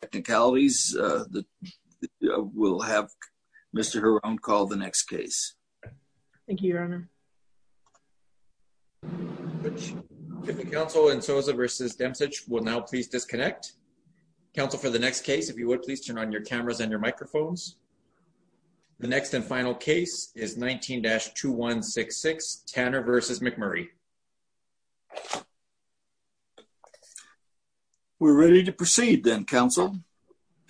technicalities. Uh, we'll have Mr. Her own call the next case. Thank you, Your Honor. Which if the council and Sosa versus Demsic will now please disconnect council for the next case. If you would please turn on your cameras and your microphones. The next and final case is 19-2166 Tanner versus McMurray. We're ready to proceed. Then Council.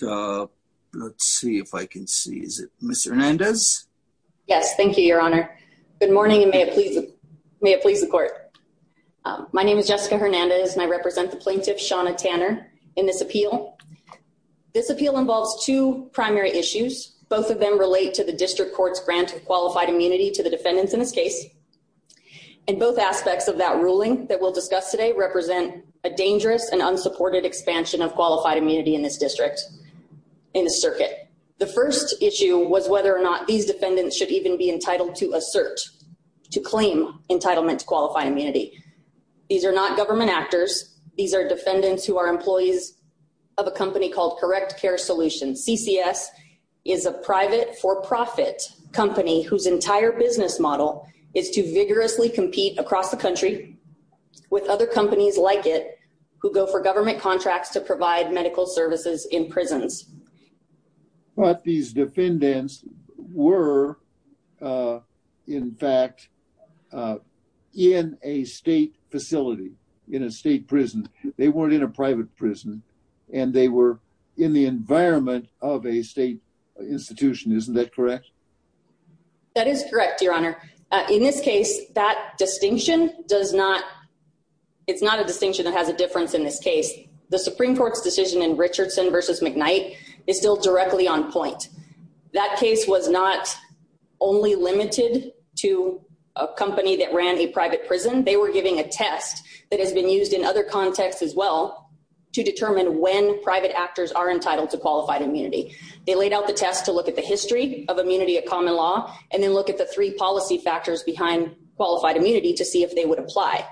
Uh, let's see if I can see. Is it Mr Hernandez? Yes. Thank you, Your Honor. Good morning. And may it please May it please the court. My name is Jessica Hernandez, and I represent the plaintiff, Shauna Tanner. In this appeal, this appeal involves two primary issues. Both of them relate to the district court's grant of qualified immunity to the defendants in this case, and both aspects of that ruling that we'll discuss today represent a dangerous and unsupported expansion of qualified immunity in this district in the circuit. The first issue was whether or not these defendants should even be entitled to assert to claim entitlement to qualify immunity. These air not government actors. These air defendants who are employees of a company called Correct Care Solutions. CCS is a private for profit company whose entire business model is to vigorously compete across the country with other companies like it who go for government contracts to provide medical services in prisons. But these defendants were, uh, in fact, uh, in a state facility in a state prison. They were in the environment of a state institution. Isn't that correct? That is correct, Your Honor. In this case, that distinction does not. It's not a distinction that has a difference. In this case, the Supreme Court's decision in Richardson versus McKnight is still directly on point. That case was not only limited to a company that ran a private prison. They were giving a test that has been used in other contexts as well to determine when private actors are entitled to qualified immunity. They laid out the test to look at the history of immunity of common law and then look at the three policy factors behind qualified immunity to see if they would apply.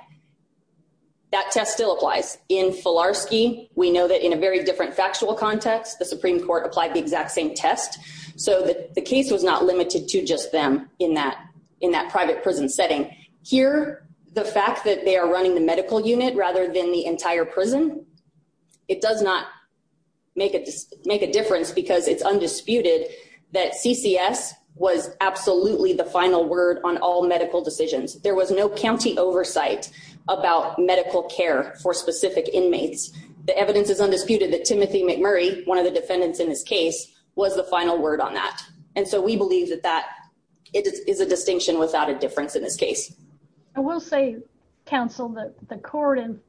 That test still applies in Fularski. We know that in a very different factual context, the Supreme Court applied the exact same test so that the case was not limited to just them in that in that private prison setting here. The fact that they are running the medical unit rather than the entire prison, it does not make it make a difference because it's undisputed that CCS was absolutely the final word on all medical decisions. There was no county oversight about medical care for specific inmates. The evidence is undisputed that Timothy McMurray, one of the defendants in this case, was the final word on that. And so we believe that that is a distinction without a case. I will say, counsel, that the court in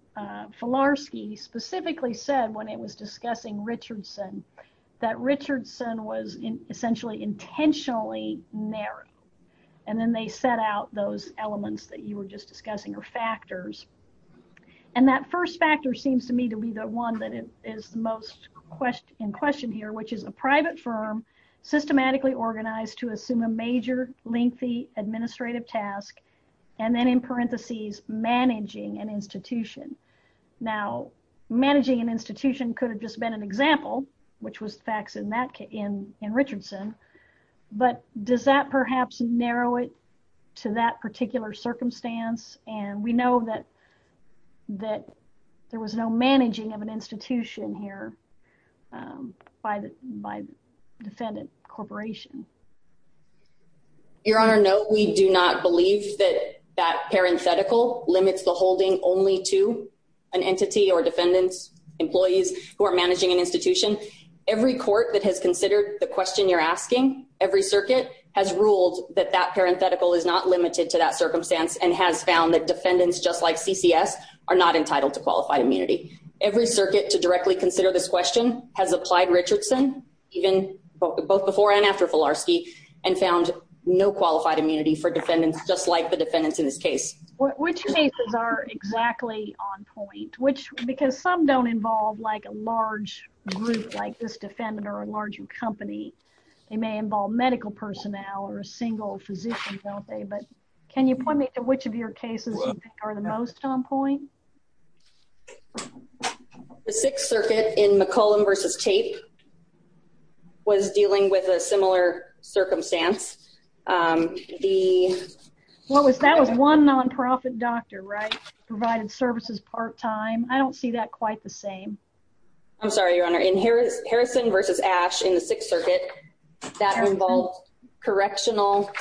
Fularski specifically said when it was discussing Richardson, that Richardson was essentially intentionally narrow. And then they set out those elements that you were just discussing are factors. And that first factor seems to me to be the one that is the most question in question here, which is a private firm systematically organized to assume a major lengthy administrative task, and then in parentheses, managing an institution. Now, managing an institution could have just been an example, which was the facts in Richardson. But does that perhaps narrow it to that particular circumstance? And we know that there was no managing of an institution here, um, by the by defendant corporation. Your Honor, no, we do not believe that that parenthetical limits the holding only to an entity or defendants, employees who are managing an institution. Every court that has considered the question you're asking every circuit has ruled that that parenthetical is not limited to that circumstance and has found that defendants, just like CCS, are not entitled to qualified immunity. Every circuit to directly consider this question has applied Richardson even both before and after Filarski and found no qualified immunity for defendants, just like the defendants in this case, which cases are exactly on point, which because some don't involve like a large group like this defendant or a larger company, they may involve medical personnel or a single physician, don't they? But can you point me to which of your cases are the most on point? The Sixth Circuit in McCollum versus tape was dealing with a similar circumstance. Um, the what was that was one non profit doctor, right? Provided services part time. I don't see that quite the same. I'm sorry, Your Honor. In Harrison versus Ash in the Sixth Circuit that involved correctional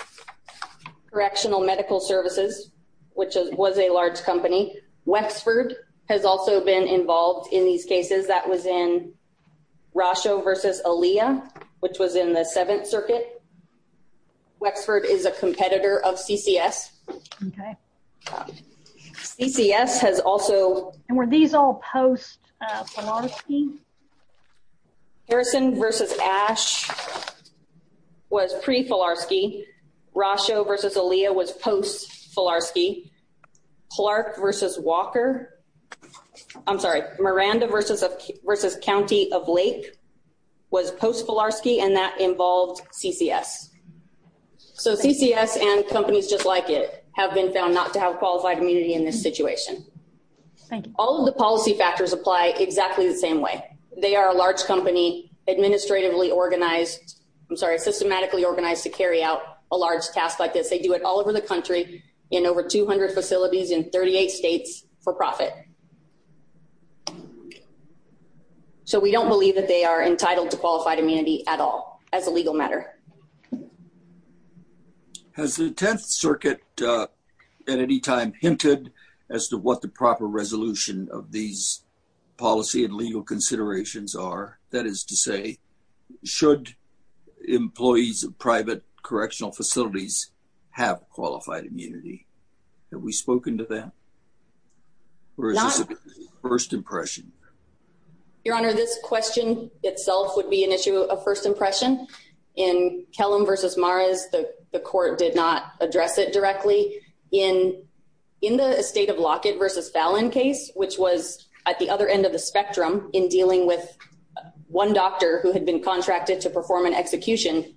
correctional medical services, which was a large company. Wexford has also been involved in these cases. That was in Rosho versus Aaliyah, which was in the Seventh Circuit. Wexford is a competitor of CCS. Okay, CCS has also were these all post Harrison versus Ash. Was pre Fularski Rosho versus Aaliyah was post Fularski Clark versus Walker. I'm sorry, Miranda versus versus County of Lake was post Fularski, and that involved CCS. So CCS and companies just like it have been found not to have qualified immunity in this situation. All of the policy factors apply exactly the same way. They are a large company administratively organized. I'm sorry, systematically organized to carry out a large task like this. They do it all over the country in over 200 facilities in 38 states for profit. So we don't believe that they are entitled to qualified immunity at all as a legal matter. Has the 10th Circuit at any time hinted as to what the proper resolution of these policy and legal considerations are? That is to say, should employees of private correctional facilities have qualified immunity? Have we spoken to them? Where is this first impression? Your Honor, this question itself would be an issue of first impression in Kellam versus Mars. The court did not address it directly in in the state of Lockett versus Fallon case, which was at the other end of the spectrum in dealing with one doctor who had been contracted to perform an execution.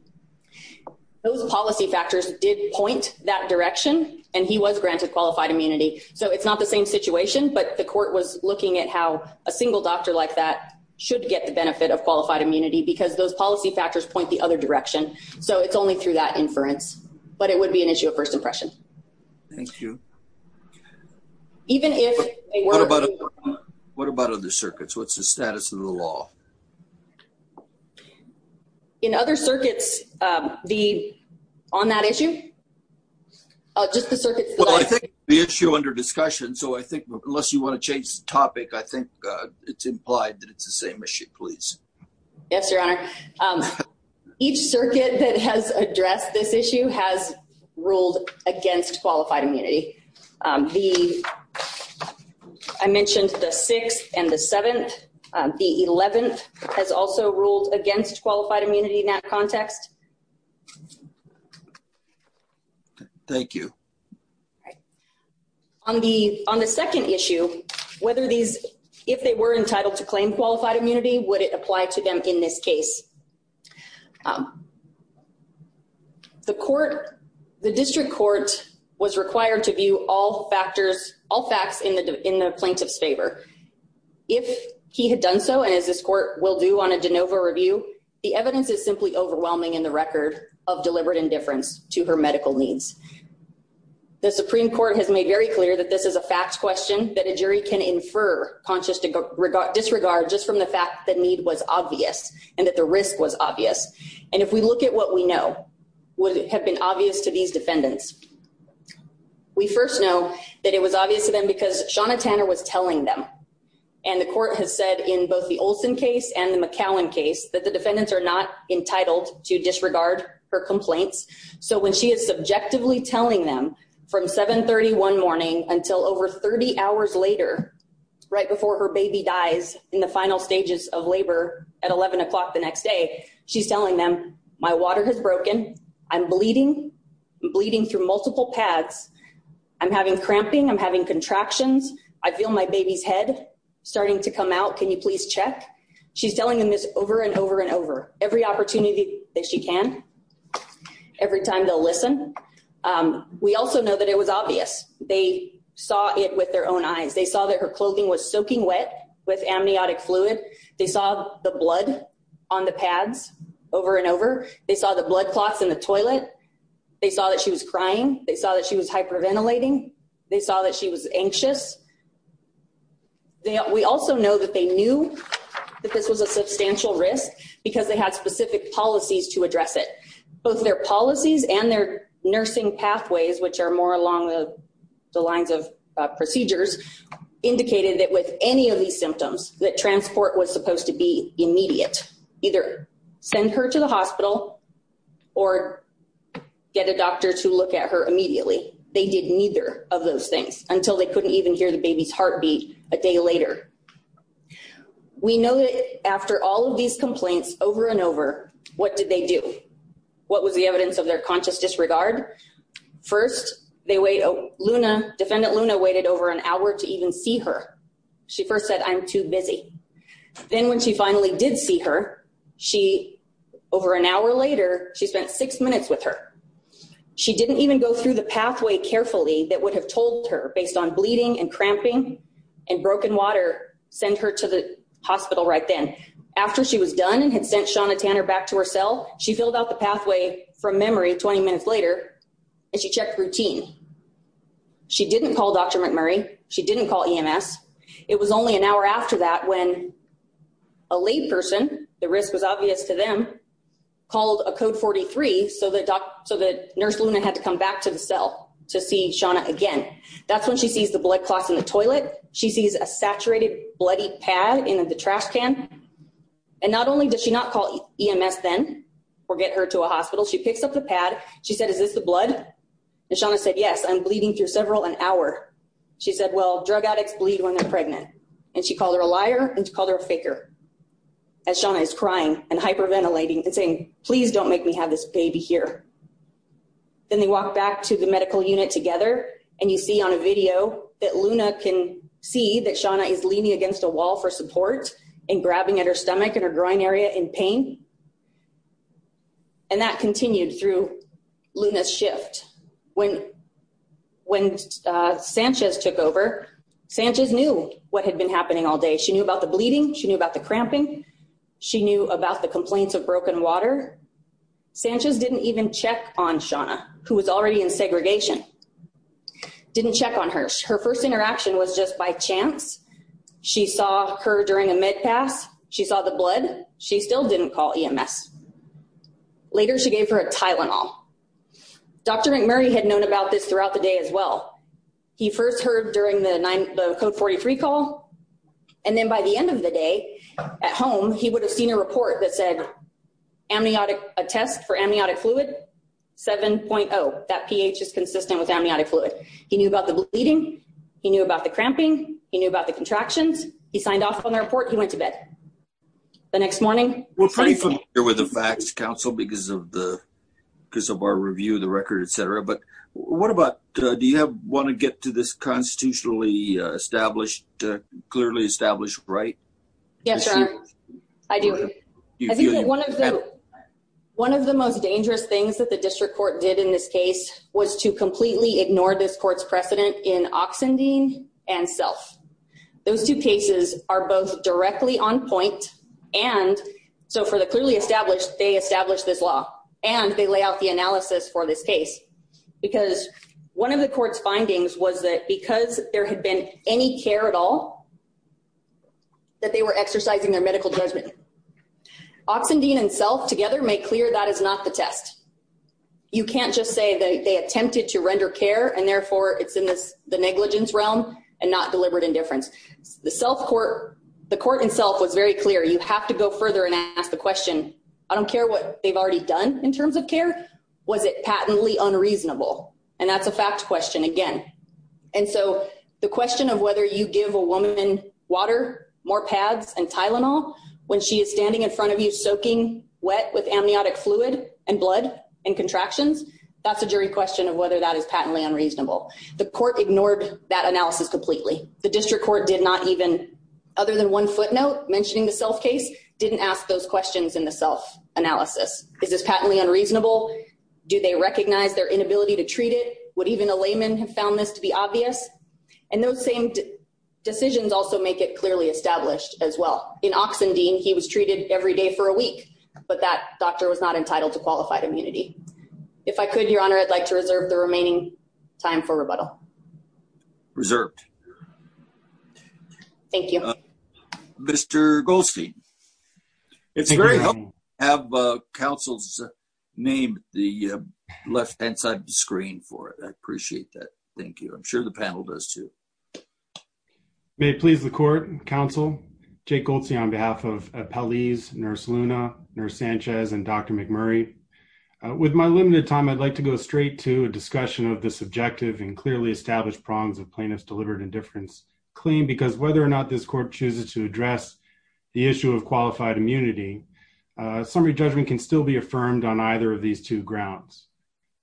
Those policy factors did point that direction, and he was granted qualified immunity. So it's not the same situation, but the court was looking at how a single doctor like that should get the benefit of qualified immunity because those policy factors point the other direction. So it's only through that impression. Thank you. Even if what about? What about other circuits? What's the status of the law in other circuits? The on that issue? Just the circuit. I think the issue under discussion. So I think unless you want to change the topic, I think it's implied that it's the same issue. Please. Yes, Your Honor. Um, each circuit that has addressed this issue has ruled against qualified immunity. Um, the I mentioned the sixth and the seventh. The 11th has also ruled against qualified immunity in that context. Thank you. On the on the second issue, whether these if they were entitled to claim qualified immunity, would it apply to them in this case? Um, the court, the district court was required to view all factors, all facts in the in the plaintiff's favor. If he had done so, and as this court will do on a de novo review, the evidence is simply overwhelming in the record of deliberate indifference to her medical needs. The Supreme Court has made very clear that this is a fact question that a jury can infer conscious disregard disregard just from the fact that need was obvious and that the risk was obvious. And if we look at what we know would have been obvious to these defendants, we first know that it was obvious to them because Shauna Tanner was telling them and the court has said in both the Olson case and the McAllen case that the defendants are not entitled to disregard her complaints. So when she is subjectively telling them from 7 31 morning until over 30 hours later, right before her baby dies in the final stages of labor at 11 o'clock the next day, she's telling them my water has broken. I'm bleeding, bleeding through multiple paths. I'm having cramping. I'm having contractions. I feel my baby's head starting to come out. Can you please check? She's telling them this over and over and over every opportunity that she can every time they listen. Um, we also know that it was obvious they saw it with their own eyes. They saw that her clothing was soaking wet with amniotic fluid. They saw the blood on the pads over and over. They saw the blood clots in the toilet. They saw that she was crying. They saw that she was hyperventilating. They saw that she was anxious. We also know that they knew that this was a substantial risk because they had specific policies to address it. Both their policies and their nursing pathways, which are more along the lines of procedures, indicated that with any of these symptoms that transport was supposed to be immediate, either send her to the hospital or get a doctor to look at her immediately. They did neither of those things until they couldn't even hear the baby's heartbeat a day later. We know that after all of these complaints over and over, what did they do? What was the evidence of their conscious disregard? First, they wait. Luna Defendant Luna waited over an hour to even see her. She first said, I'm too busy. Then when she finally did see her, she over an hour later, she spent six minutes with her. She didn't even go through the pathway carefully that would have told her based on bleeding and cramping and broken water. Send her to the hospital right then. After she was done and had sent Shauna Tanner back to her cell, she filled out the pathway from memory 20 minutes later, and she checked routine. She didn't call Dr. McMurray. She didn't call EMS. It was only an hour after that when a lay person, the risk was obvious to them, called a code 43 so that nurse Luna had to come back to the cell to see Shauna again. That's when she sees the blood clots in the toilet. She sees a or get her to a hospital. She picks up the pad. She said, Is this the blood? Shauna said, Yes, I'm bleeding through several an hour. She said, Well, drug addicts bleed when they're pregnant, and she called her a liar and called her faker as Shauna is crying and hyperventilating and saying, Please don't make me have this baby here. Then they walk back to the medical unit together, and you see on a video that Luna can see that Shauna is leaning against a wall for support and grabbing at her stomach and her groin area in pain. And that continued through Luna's shift. When when Sanchez took over, Sanchez knew what had been happening all day. She knew about the bleeding. She knew about the cramping. She knew about the complaints of broken water. Sanchez didn't even check on Shauna, who was already in segregation, didn't check on her. Her first interaction was just by chance. She saw her during a mid pass. She saw the blood. She still didn't call E. M. S. Later, she gave her a Tylenol. Dr. McMurray had known about this throughout the day as well. He first heard during the code 43 call, and then by the end of the day at home, he would have seen a report that said amniotic a test for amniotic fluid 7.0. That pH is consistent with amniotic fluid. He knew about the bleeding. He knew about the cramping. He knew about the contractions. He signed off on the report. He went to bed the next morning. We're pretty familiar with the facts council because of the because of our review of the record, etcetera. But what about do you want to get to this constitutionally established, clearly established, right? Yes, sir. I do. I think one of the one of the most dangerous things that the district court did in this case was to completely ignore this court's precedent in Oxen Dean and self. Those two cases are both directly on point. And so for the clearly established, they established this law, and they lay out the analysis for this case because one of the court's findings was that because there had been any care at all that they were exercising their medical judgment. Oxen Dean and self together make clear that is not the test. You can't just say that they attempted to render care, and therefore it's in the negligence realm and not deliberate indifference. The self court, the court itself was very clear. You have to go further and ask the question. I don't care what they've already done in terms of care. Was it patently unreasonable? And that's a fact question again. And so the question of whether you give a woman water, more pads and Tylenol when she is standing in front of you soaking wet with amniotic fluid and blood and contractions. That's a jury question of whether that is patently unreasonable. The court ignored that analysis completely. The district court did not even, other than one footnote mentioning the self case, didn't ask those questions in the self analysis. Is this patently unreasonable? Do they recognize their inability to treat it? Would even a layman have found this to be obvious? And those same decisions also make it clearly established as well. In Oxen Dean, he was treated every day for a week, but that doctor was not entitled to qualified immunity. If I could, your honor, I'd like to reserve the remaining time for rebuttal. Reserved. Thank you, Mr Goldstein. It's very helpful to have council's name the left hand side of the screen for it. I appreciate that. Thank you. I'm sure the panel does, too. May it please the court. Council Jake Goldstein on behalf of a police nurse, Luna, Nurse Sanchez and Dr McMurray. With my limited time, I'd like to go straight to a discussion of the subjective and clearly established prongs of plaintiff's delivered indifference claim, because whether or not this court chooses to address the issue of qualified immunity, uh, summary judgment can still be affirmed on either of these two grounds.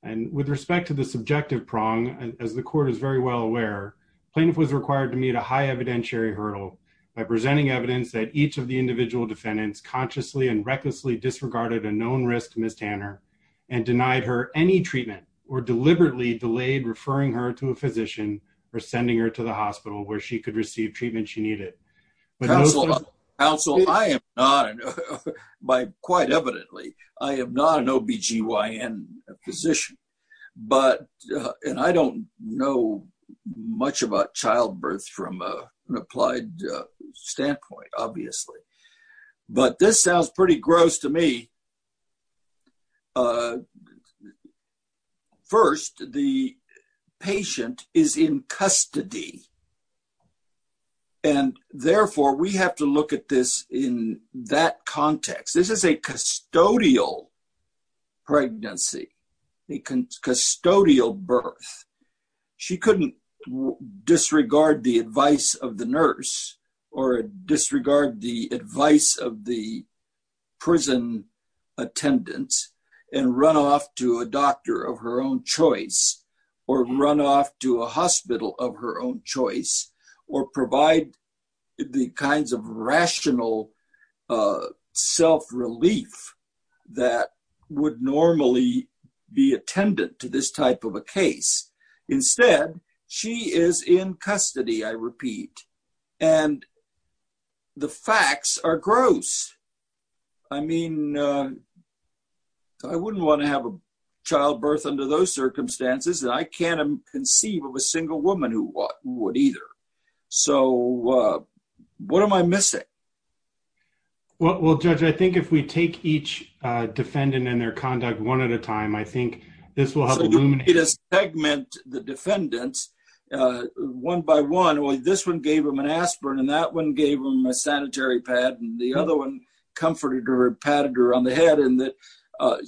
And with respect to the subjective prong, as the court is very well aware, plaintiff was required to meet a high evidentiary hurdle by presenting evidence that each of the individual defendants consciously and recklessly disregarded a known risk. Miss Tanner and denied her any treatment or deliberately delayed, referring her to a physician or sending her to the hospital where she could receive treatment. She needed, but also I am not by quite evidently, I am not an ob gyn position, but I don't know much about childbirth from a applied standpoint, obviously. But this sounds pretty gross to me. Uh, first, the patient is in custody, and therefore we have to look at this in that context. This is a custodial pregnancy, a custodial birth. She couldn't disregard the advice of the nurse or disregard the advice of the prison attendants and run off to a doctor of her own choice or run off to a hospital of her own choice or provide the kinds of rational, uh, self relief that would normally be attendant to this type of a case. Instead, she is in custody, I repeat, and the facts are gross. I mean, uh, I wouldn't want to have a childbirth under those circumstances, and I can't conceive of a single woman who would either. So, uh, what am I missing? Well, Judge, I think if we take each defendant and their conduct one at a time, I think this will help. It is segment. The defendants, uh, one by one. Only this one gave him an aspirin, and that one gave him a sanitary pad, and the other one comforted or padded her on the head. And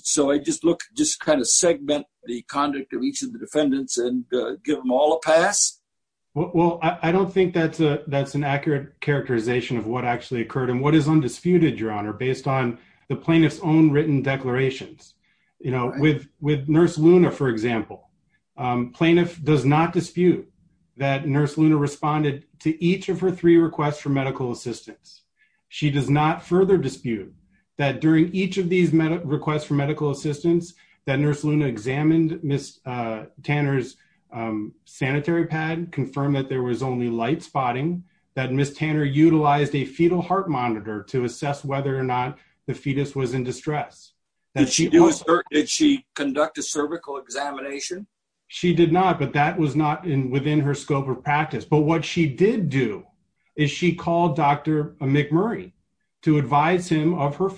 so I just look just kind of segment the conduct of each of the defendants and give them all a yes. Well, I don't think that's a that's an accurate characterization of what actually occurred and what is undisputed your honor based on the plaintiff's own written declarations. You know, with with Nurse Luna, for example, um, plaintiff does not dispute that Nurse Luna responded to each of her three requests for medical assistance. She does not further dispute that during each of these requests for medical assistance that Nurse Luna examined Miss Tanner's, um, sanitary pad confirmed that there was only light spotting that Miss Tanner utilized a fetal heart monitor to assess whether or not the fetus was in distress that she was. Did she conduct a cervical examination? She did not. But that was not in within her scope of practice. But what she did do is she called Dr McMurray to advise him of her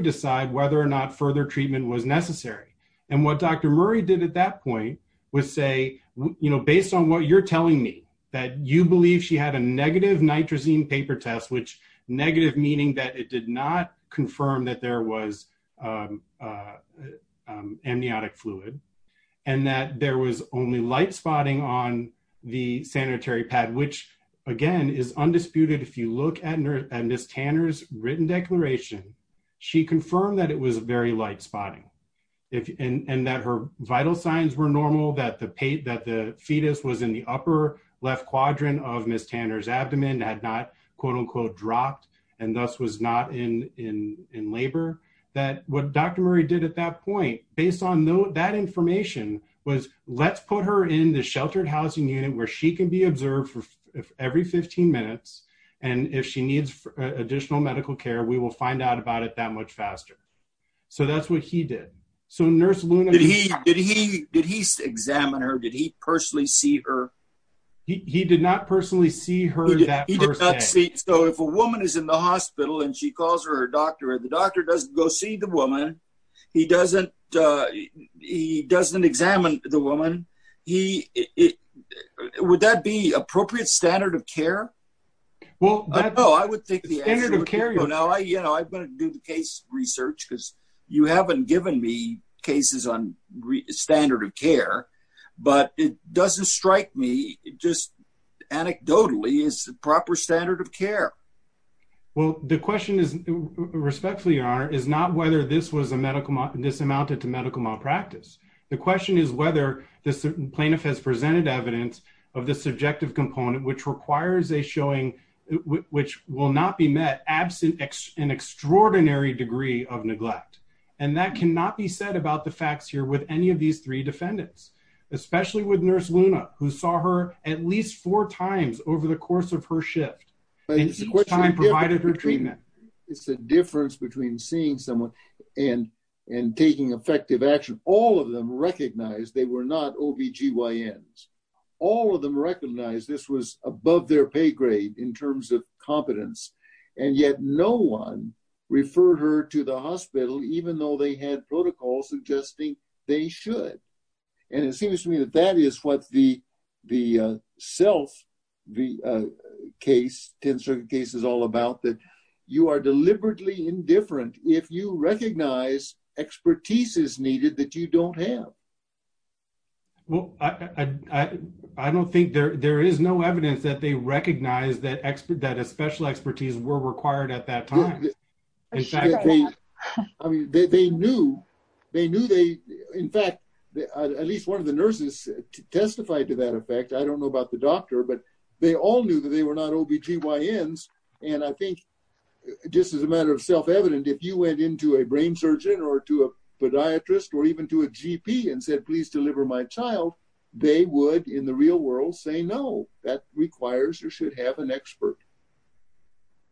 decide whether or not further treatment was necessary. And what Dr Murray did at that point was say, you know, based on what you're telling me that you believe she had a negative nitrosine paper test, which negative meaning that it did not confirm that there was, um, um, amniotic fluid and that there was only light spotting on the sanitary pad, which again is undisputed. If you look at Nurse and Miss Tanner's written declaration, she confirmed that it was very light spotting and that her vital signs were normal, that the paint that the fetus was in the upper left quadrant of Miss Tanner's abdomen had not quote unquote dropped and thus was not in in in labor that what Dr Murray did at that point based on that information was let's put her in the sheltered housing unit where she can be observed for every 15 minutes. And if she needs additional medical care, we will find out about it that much faster. So that's what he did. So Nurse Luna, did he did he did he examine her? Did he personally see her? He did not personally see her. He did not see. So if a woman is in the hospital and she calls her doctor, the doctor doesn't go see the woman. He doesn't. Uh, he doesn't examine the it. Would that be appropriate standard of care? Well, I don't know. I would think the standard of care. You know, I'm going to do the case research because you haven't given me cases on standard of care, but it doesn't strike me. Just anecdotally is the proper standard of care. Well, the question is respectfully are is not whether this was a medical this amounted to medical malpractice. The question is whether this plaintiff has presented evidence of the subjective component, which requires a showing which will not be met absent an extraordinary degree of neglect. And that cannot be said about the facts here with any of these three defendants, especially with Nurse Luna, who saw her at least four times over the course of her shift time provided her treatment. It's a difference between seeing someone and and taking effective action. All of them recognized they were not OBGYNs. All of them recognized this was above their pay grade in terms of competence. And yet no one referred her to the hospital, even though they had protocol suggesting they should. And it seems to me that that is what the the self the case tensor case is all about, that you are deliberately indifferent if you don't have the expertise is needed that you don't have. Well, I don't think there there is no evidence that they recognize that expert that a special expertise were required at that time. I mean, they knew they knew they in fact, at least one of the nurses testified to that effect. I don't know about the doctor, but they all knew that they were not OBGYNs. And I think just as a matter of self-evident, if you went into a brain surgeon or to a podiatrist or even to a GP and said, please deliver my child, they would in the real world say no, that requires or should have an expert.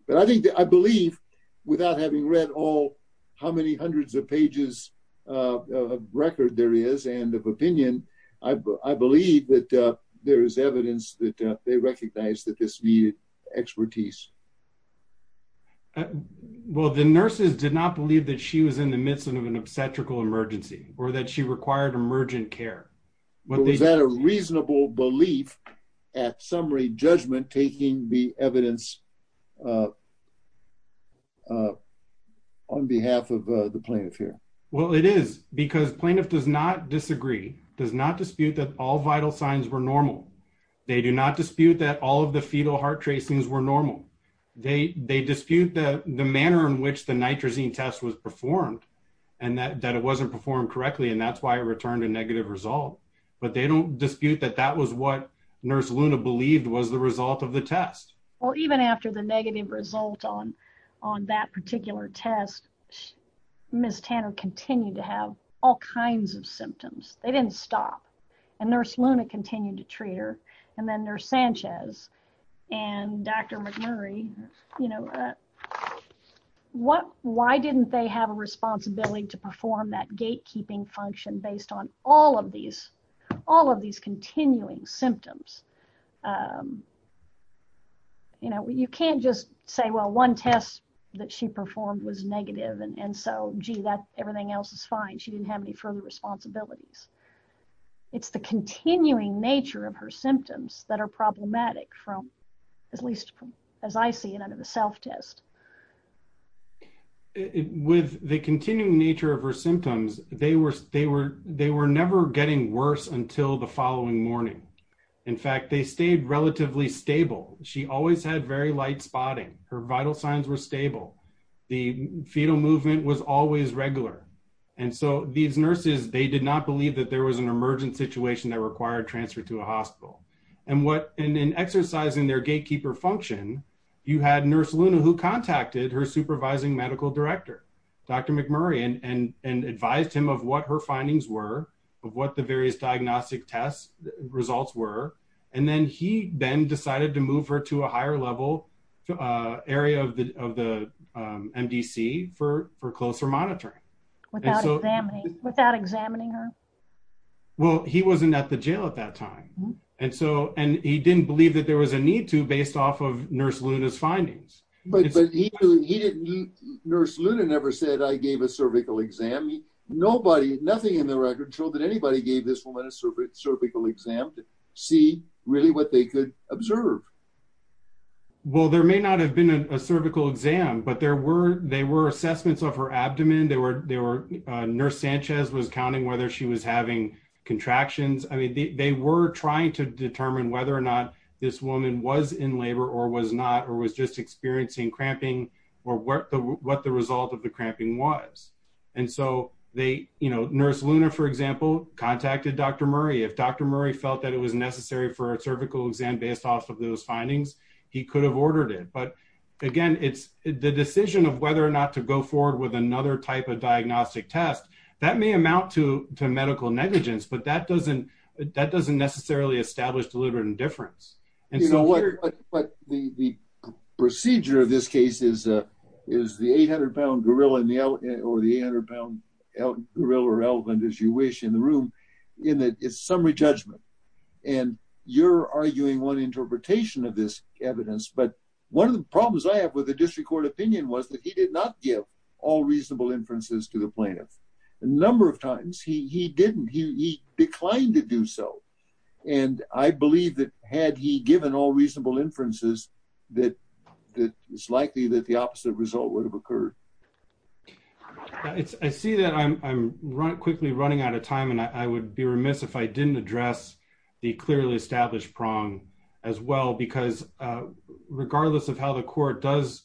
But I think that I believe without having read all how many hundreds of pages of record there is and of opinion, I believe that there is evidence that they recognize that this expertise. Well, the nurses did not believe that she was in the midst of an obstetrical emergency or that she required emergent care. Was that a reasonable belief at summary judgment taking the evidence on behalf of the plaintiff here? Well, it is because plaintiff does not disagree, does not dispute that all vital signs were normal. They do not dispute that all of the fetal heart tracings were normal. They dispute the manner in which the nitrosine test was performed and that it wasn't performed correctly and that's why it returned a negative result. But they don't dispute that that was what Nurse Luna believed was the result of the test. Or even after the negative result on that particular test, Ms. Tanner continued to have all kinds of symptoms. They didn't stop. And Nurse Luna continued to treat her. And then Nurse Sanchez and Dr. McMurray, you know, why didn't they have a responsibility to perform that gatekeeping function based on all of these continuing symptoms? You know, you can't just say, well, one test that she performed was negative and so, gee, that everything else is fine. She didn't have any further responsibilities. It's the continuing nature of her symptoms that are problematic from, at least as I see it under the self-test. With the continuing nature of her symptoms, they were never getting worse until the following morning. In fact, they stayed relatively stable. She always had very light spotting. Her vital signs were stable. The fetal movement was always regular. And so these nurses, they did not believe that there was an emergent situation that required transfer to a hospital. And in exercising their gatekeeper function, you had Nurse Luna who contacted her supervising medical director, Dr. McMurray, and advised him of what her findings were, of what the various diagnostic test results were. And then he then decided to move her to a higher level area of the MDC for closer monitoring. Without examining her? Well, he wasn't at the jail at that time. And he didn't believe that there was a need to based off of Nurse Luna's findings. But Nurse Luna never said, I gave a cervical exam. Nobody, nothing in the record, showed that anybody gave this woman a cervical exam to see really what they could observe. Well, there may not have been a cervical exam, but there were assessments of her having contractions. I mean, they were trying to determine whether or not this woman was in labor or was not, or was just experiencing cramping, or what the result of the cramping was. And so they, you know, Nurse Luna, for example, contacted Dr. Murray. If Dr. Murray felt that it was necessary for a cervical exam based off of those findings, he could have ordered it. But again, it's the decision of whether or not to go forward with another type of diagnostic test. That may amount to medical negligence, but that doesn't, that doesn't necessarily establish deliberate indifference. And so what, but the procedure of this case is, is the 800 pound gorilla in the, or the 800 pound gorilla or elephant as you wish in the room, in that it's summary judgment. And you're arguing one interpretation of this evidence. But one of the problems I have with the district court opinion was that he did not give all reasonable inferences to the plaintiff. A number of times he didn't, he declined to do so. And I believe that had he given all reasonable inferences, that it's likely that the opposite result would have occurred. It's I see that I'm running quickly running out of time. And I would be remiss if I didn't address the clearly established prong as well, because regardless of how the court does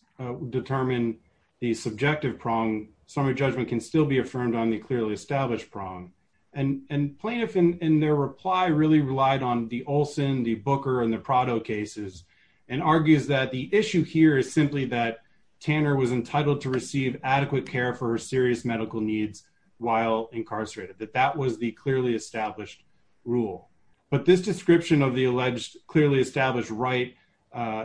determine the subjective prong, summary judgment can still be affirmed on the clearly established prong and plaintiff in their reply really relied on the Olson, the Booker and the Prado cases and argues that the issue here is simply that Tanner was entitled to receive adequate care for serious medical needs while incarcerated, that that was the clearly established rule. But this description of the alleged clearly established right,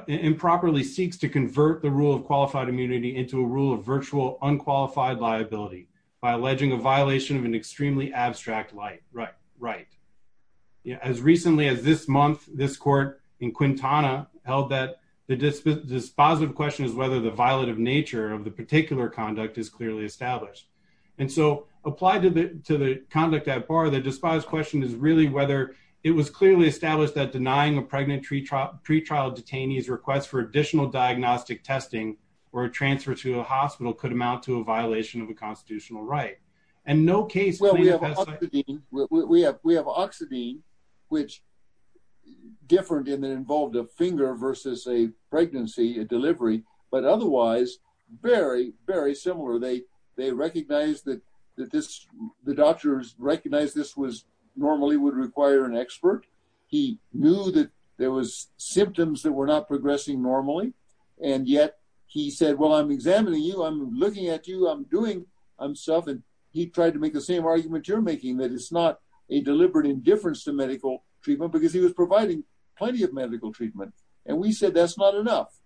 improperly seeks to convert the rule of qualified immunity into a rule of virtual unqualified liability by alleging a violation of an extremely abstract light, right, right. Yeah, as recently as this month, this court in Quintana held that the dispositive question is whether the violative nature of the particular conduct is clearly established. And so applied to the to the conduct at par that despise question is really whether it was clearly established that denying a pregnant tree trough pretrial detainees requests for additional diagnostic testing, or a transfer to a hospital could amount to a violation of a constitutional right. And no case. Well, we have we have we have oxygen, which different in that involved a finger versus a pregnancy delivery, but otherwise, very, very similar. They, they recognize that, that this, the diagnosis was normally would require an expert, he knew that there was symptoms that were not progressing normally. And yet, he said, Well, I'm examining you, I'm looking at you, I'm doing I'm stuff. And he tried to make the same argument you're making that it's not a deliberate indifference to medical treatment, because he was providing plenty of medical treatment. And we said that's not enough.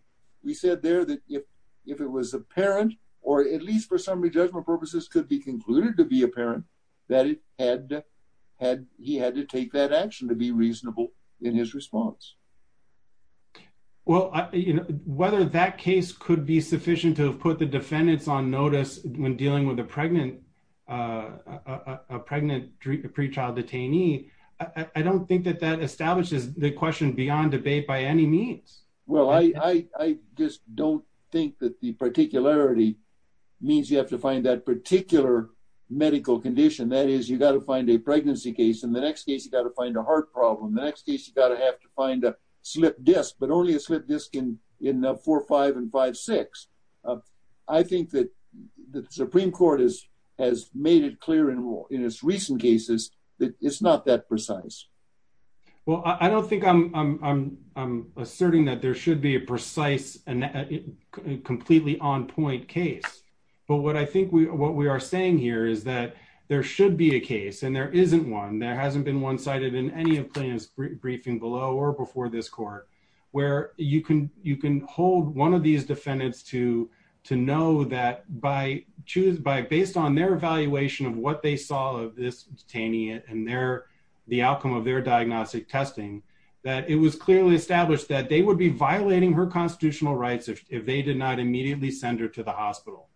We said there that if, if it was apparent, or at least for summary judgment purposes could be concluded to be apparent, that had had he had to take that action to be reasonable in his response. Well, you know, whether that case could be sufficient to have put the defendants on notice when dealing with a pregnant, a pregnant pre child detainee, I don't think that that establishes the question beyond debate by any means. Well, I just don't think that the particularity means you have to find that particular medical condition. That is, you got to find a pregnancy case. In the next case, you got to find a heart problem. The next case, you got to have to find a slipped disc, but only a slipped disc in in four, five and five, six. I think that the Supreme Court is, has made it clear in in its recent cases, that it's not that precise. Well, I don't think I'm, I'm, I'm asserting that there should be a precise and completely on point case. But what I think we, what we are saying here is that there should be a case and there isn't one, there hasn't been one cited in any of plaintiff's briefing below or before this court, where you can, you can hold one of these defendants to, to know that by choose by based on their evaluation of what they saw of this detainee and their, the outcome of their diagnostic testing, that it was clearly established that they would be violating her constitutional rights if they did not immediately send her to the hospital.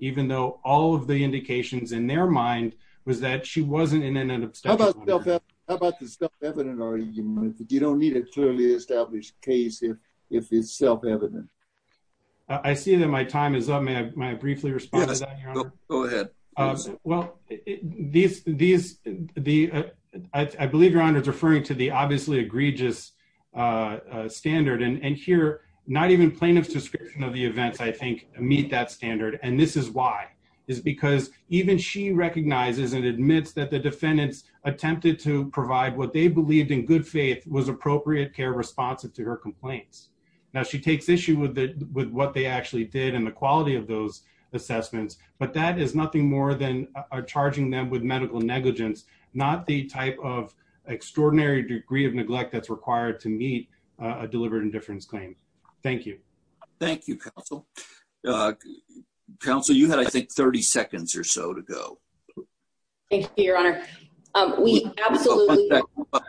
Even though all of the indications in their mind was that she wasn't in an abstention. How about the self-evident argument? You don't need a clearly established case if, if it's self-evident. I see that my time is up. May I, may I briefly respond to that, Your Honor? Go ahead. Well, these, these, the, I believe Your Honor is referring to the obviously egregious standard and, and here not even plaintiff's description of the events, I think meet that standard. And this is why, is because even she recognizes and admits that the defendants attempted to provide what they believed in good faith was appropriate care responsive to her complaints. Now she takes issue with the, with what they actually did and the quality of those assessments, but that is nothing more than charging them with medical negligence, not the type of extraordinary degree of neglect that's required to meet a deliberate indifference claim. Thank you. Thank you, counsel. Uh, counsel, you had, I think, 30 seconds or so to go. Thank you, Your Honor. Um, we absolutely.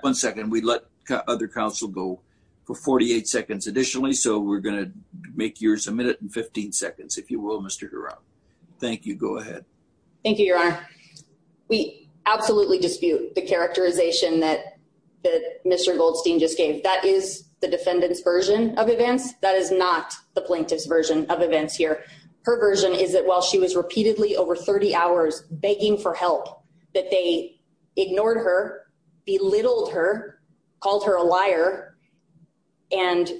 One second. We let other counsel go for 48 seconds additionally. So we're going to make yours a minute and 15 seconds, if you will, Mr. Girod. Thank you. Go ahead. Thank you, Your Honor. We absolutely dispute the characterization that the Mr. Goldstein just gave. That is the defendant's version of events. That is not the plaintiff's version of events here. Her version is that while she was repeatedly over 30 hours begging for help that they ignored her, belittled her, called her a liar and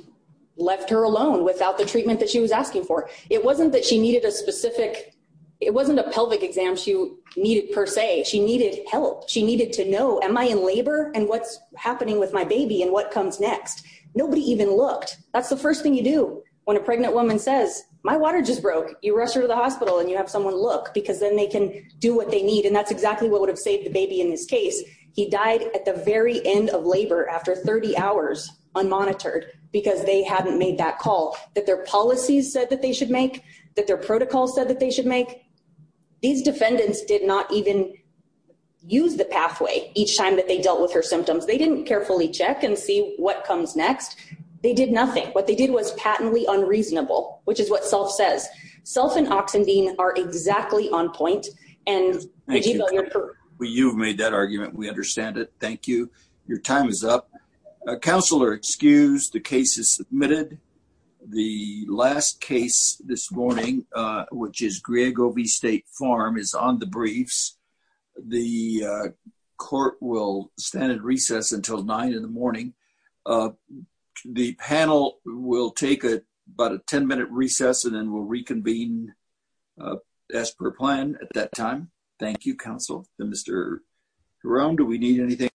left her alone without the treatment that she was asking for. It wasn't that she needed a specific, it wasn't a pelvic exam she needed per se. She needed help. She needed to know, am I in labor and what's happening with my baby and what comes next? Nobody even looked. That's the first thing you do when a pregnant woman says, my water just broke. You rush her to the hospital and you have someone look because then they can do what they need. And that's exactly what would have saved the baby in this case. He died at the very end of labor after 30 hours unmonitored because they haven't made that call that their policies said that they should make that their protocol said that they should make. These defendants did not even use the pathway each time that they dealt with her symptoms. They didn't carefully check and see what comes next. They did nothing. What they did was patently unreasonable, which is what self says. Self and oxygen are exactly on point and you've made that argument. We understand it. Thank you. Your time is up. Counselor excused. The case is submitted. The last case this morning, which is Greg O. V. State Farm is on the briefs. The court will stand at recess until nine in the morning. Uh, the panel will take it but a 10 minute recess and then we'll reconvene, uh, as per plan at that time. Thank you, Council. Mr Jerome, do we need anything?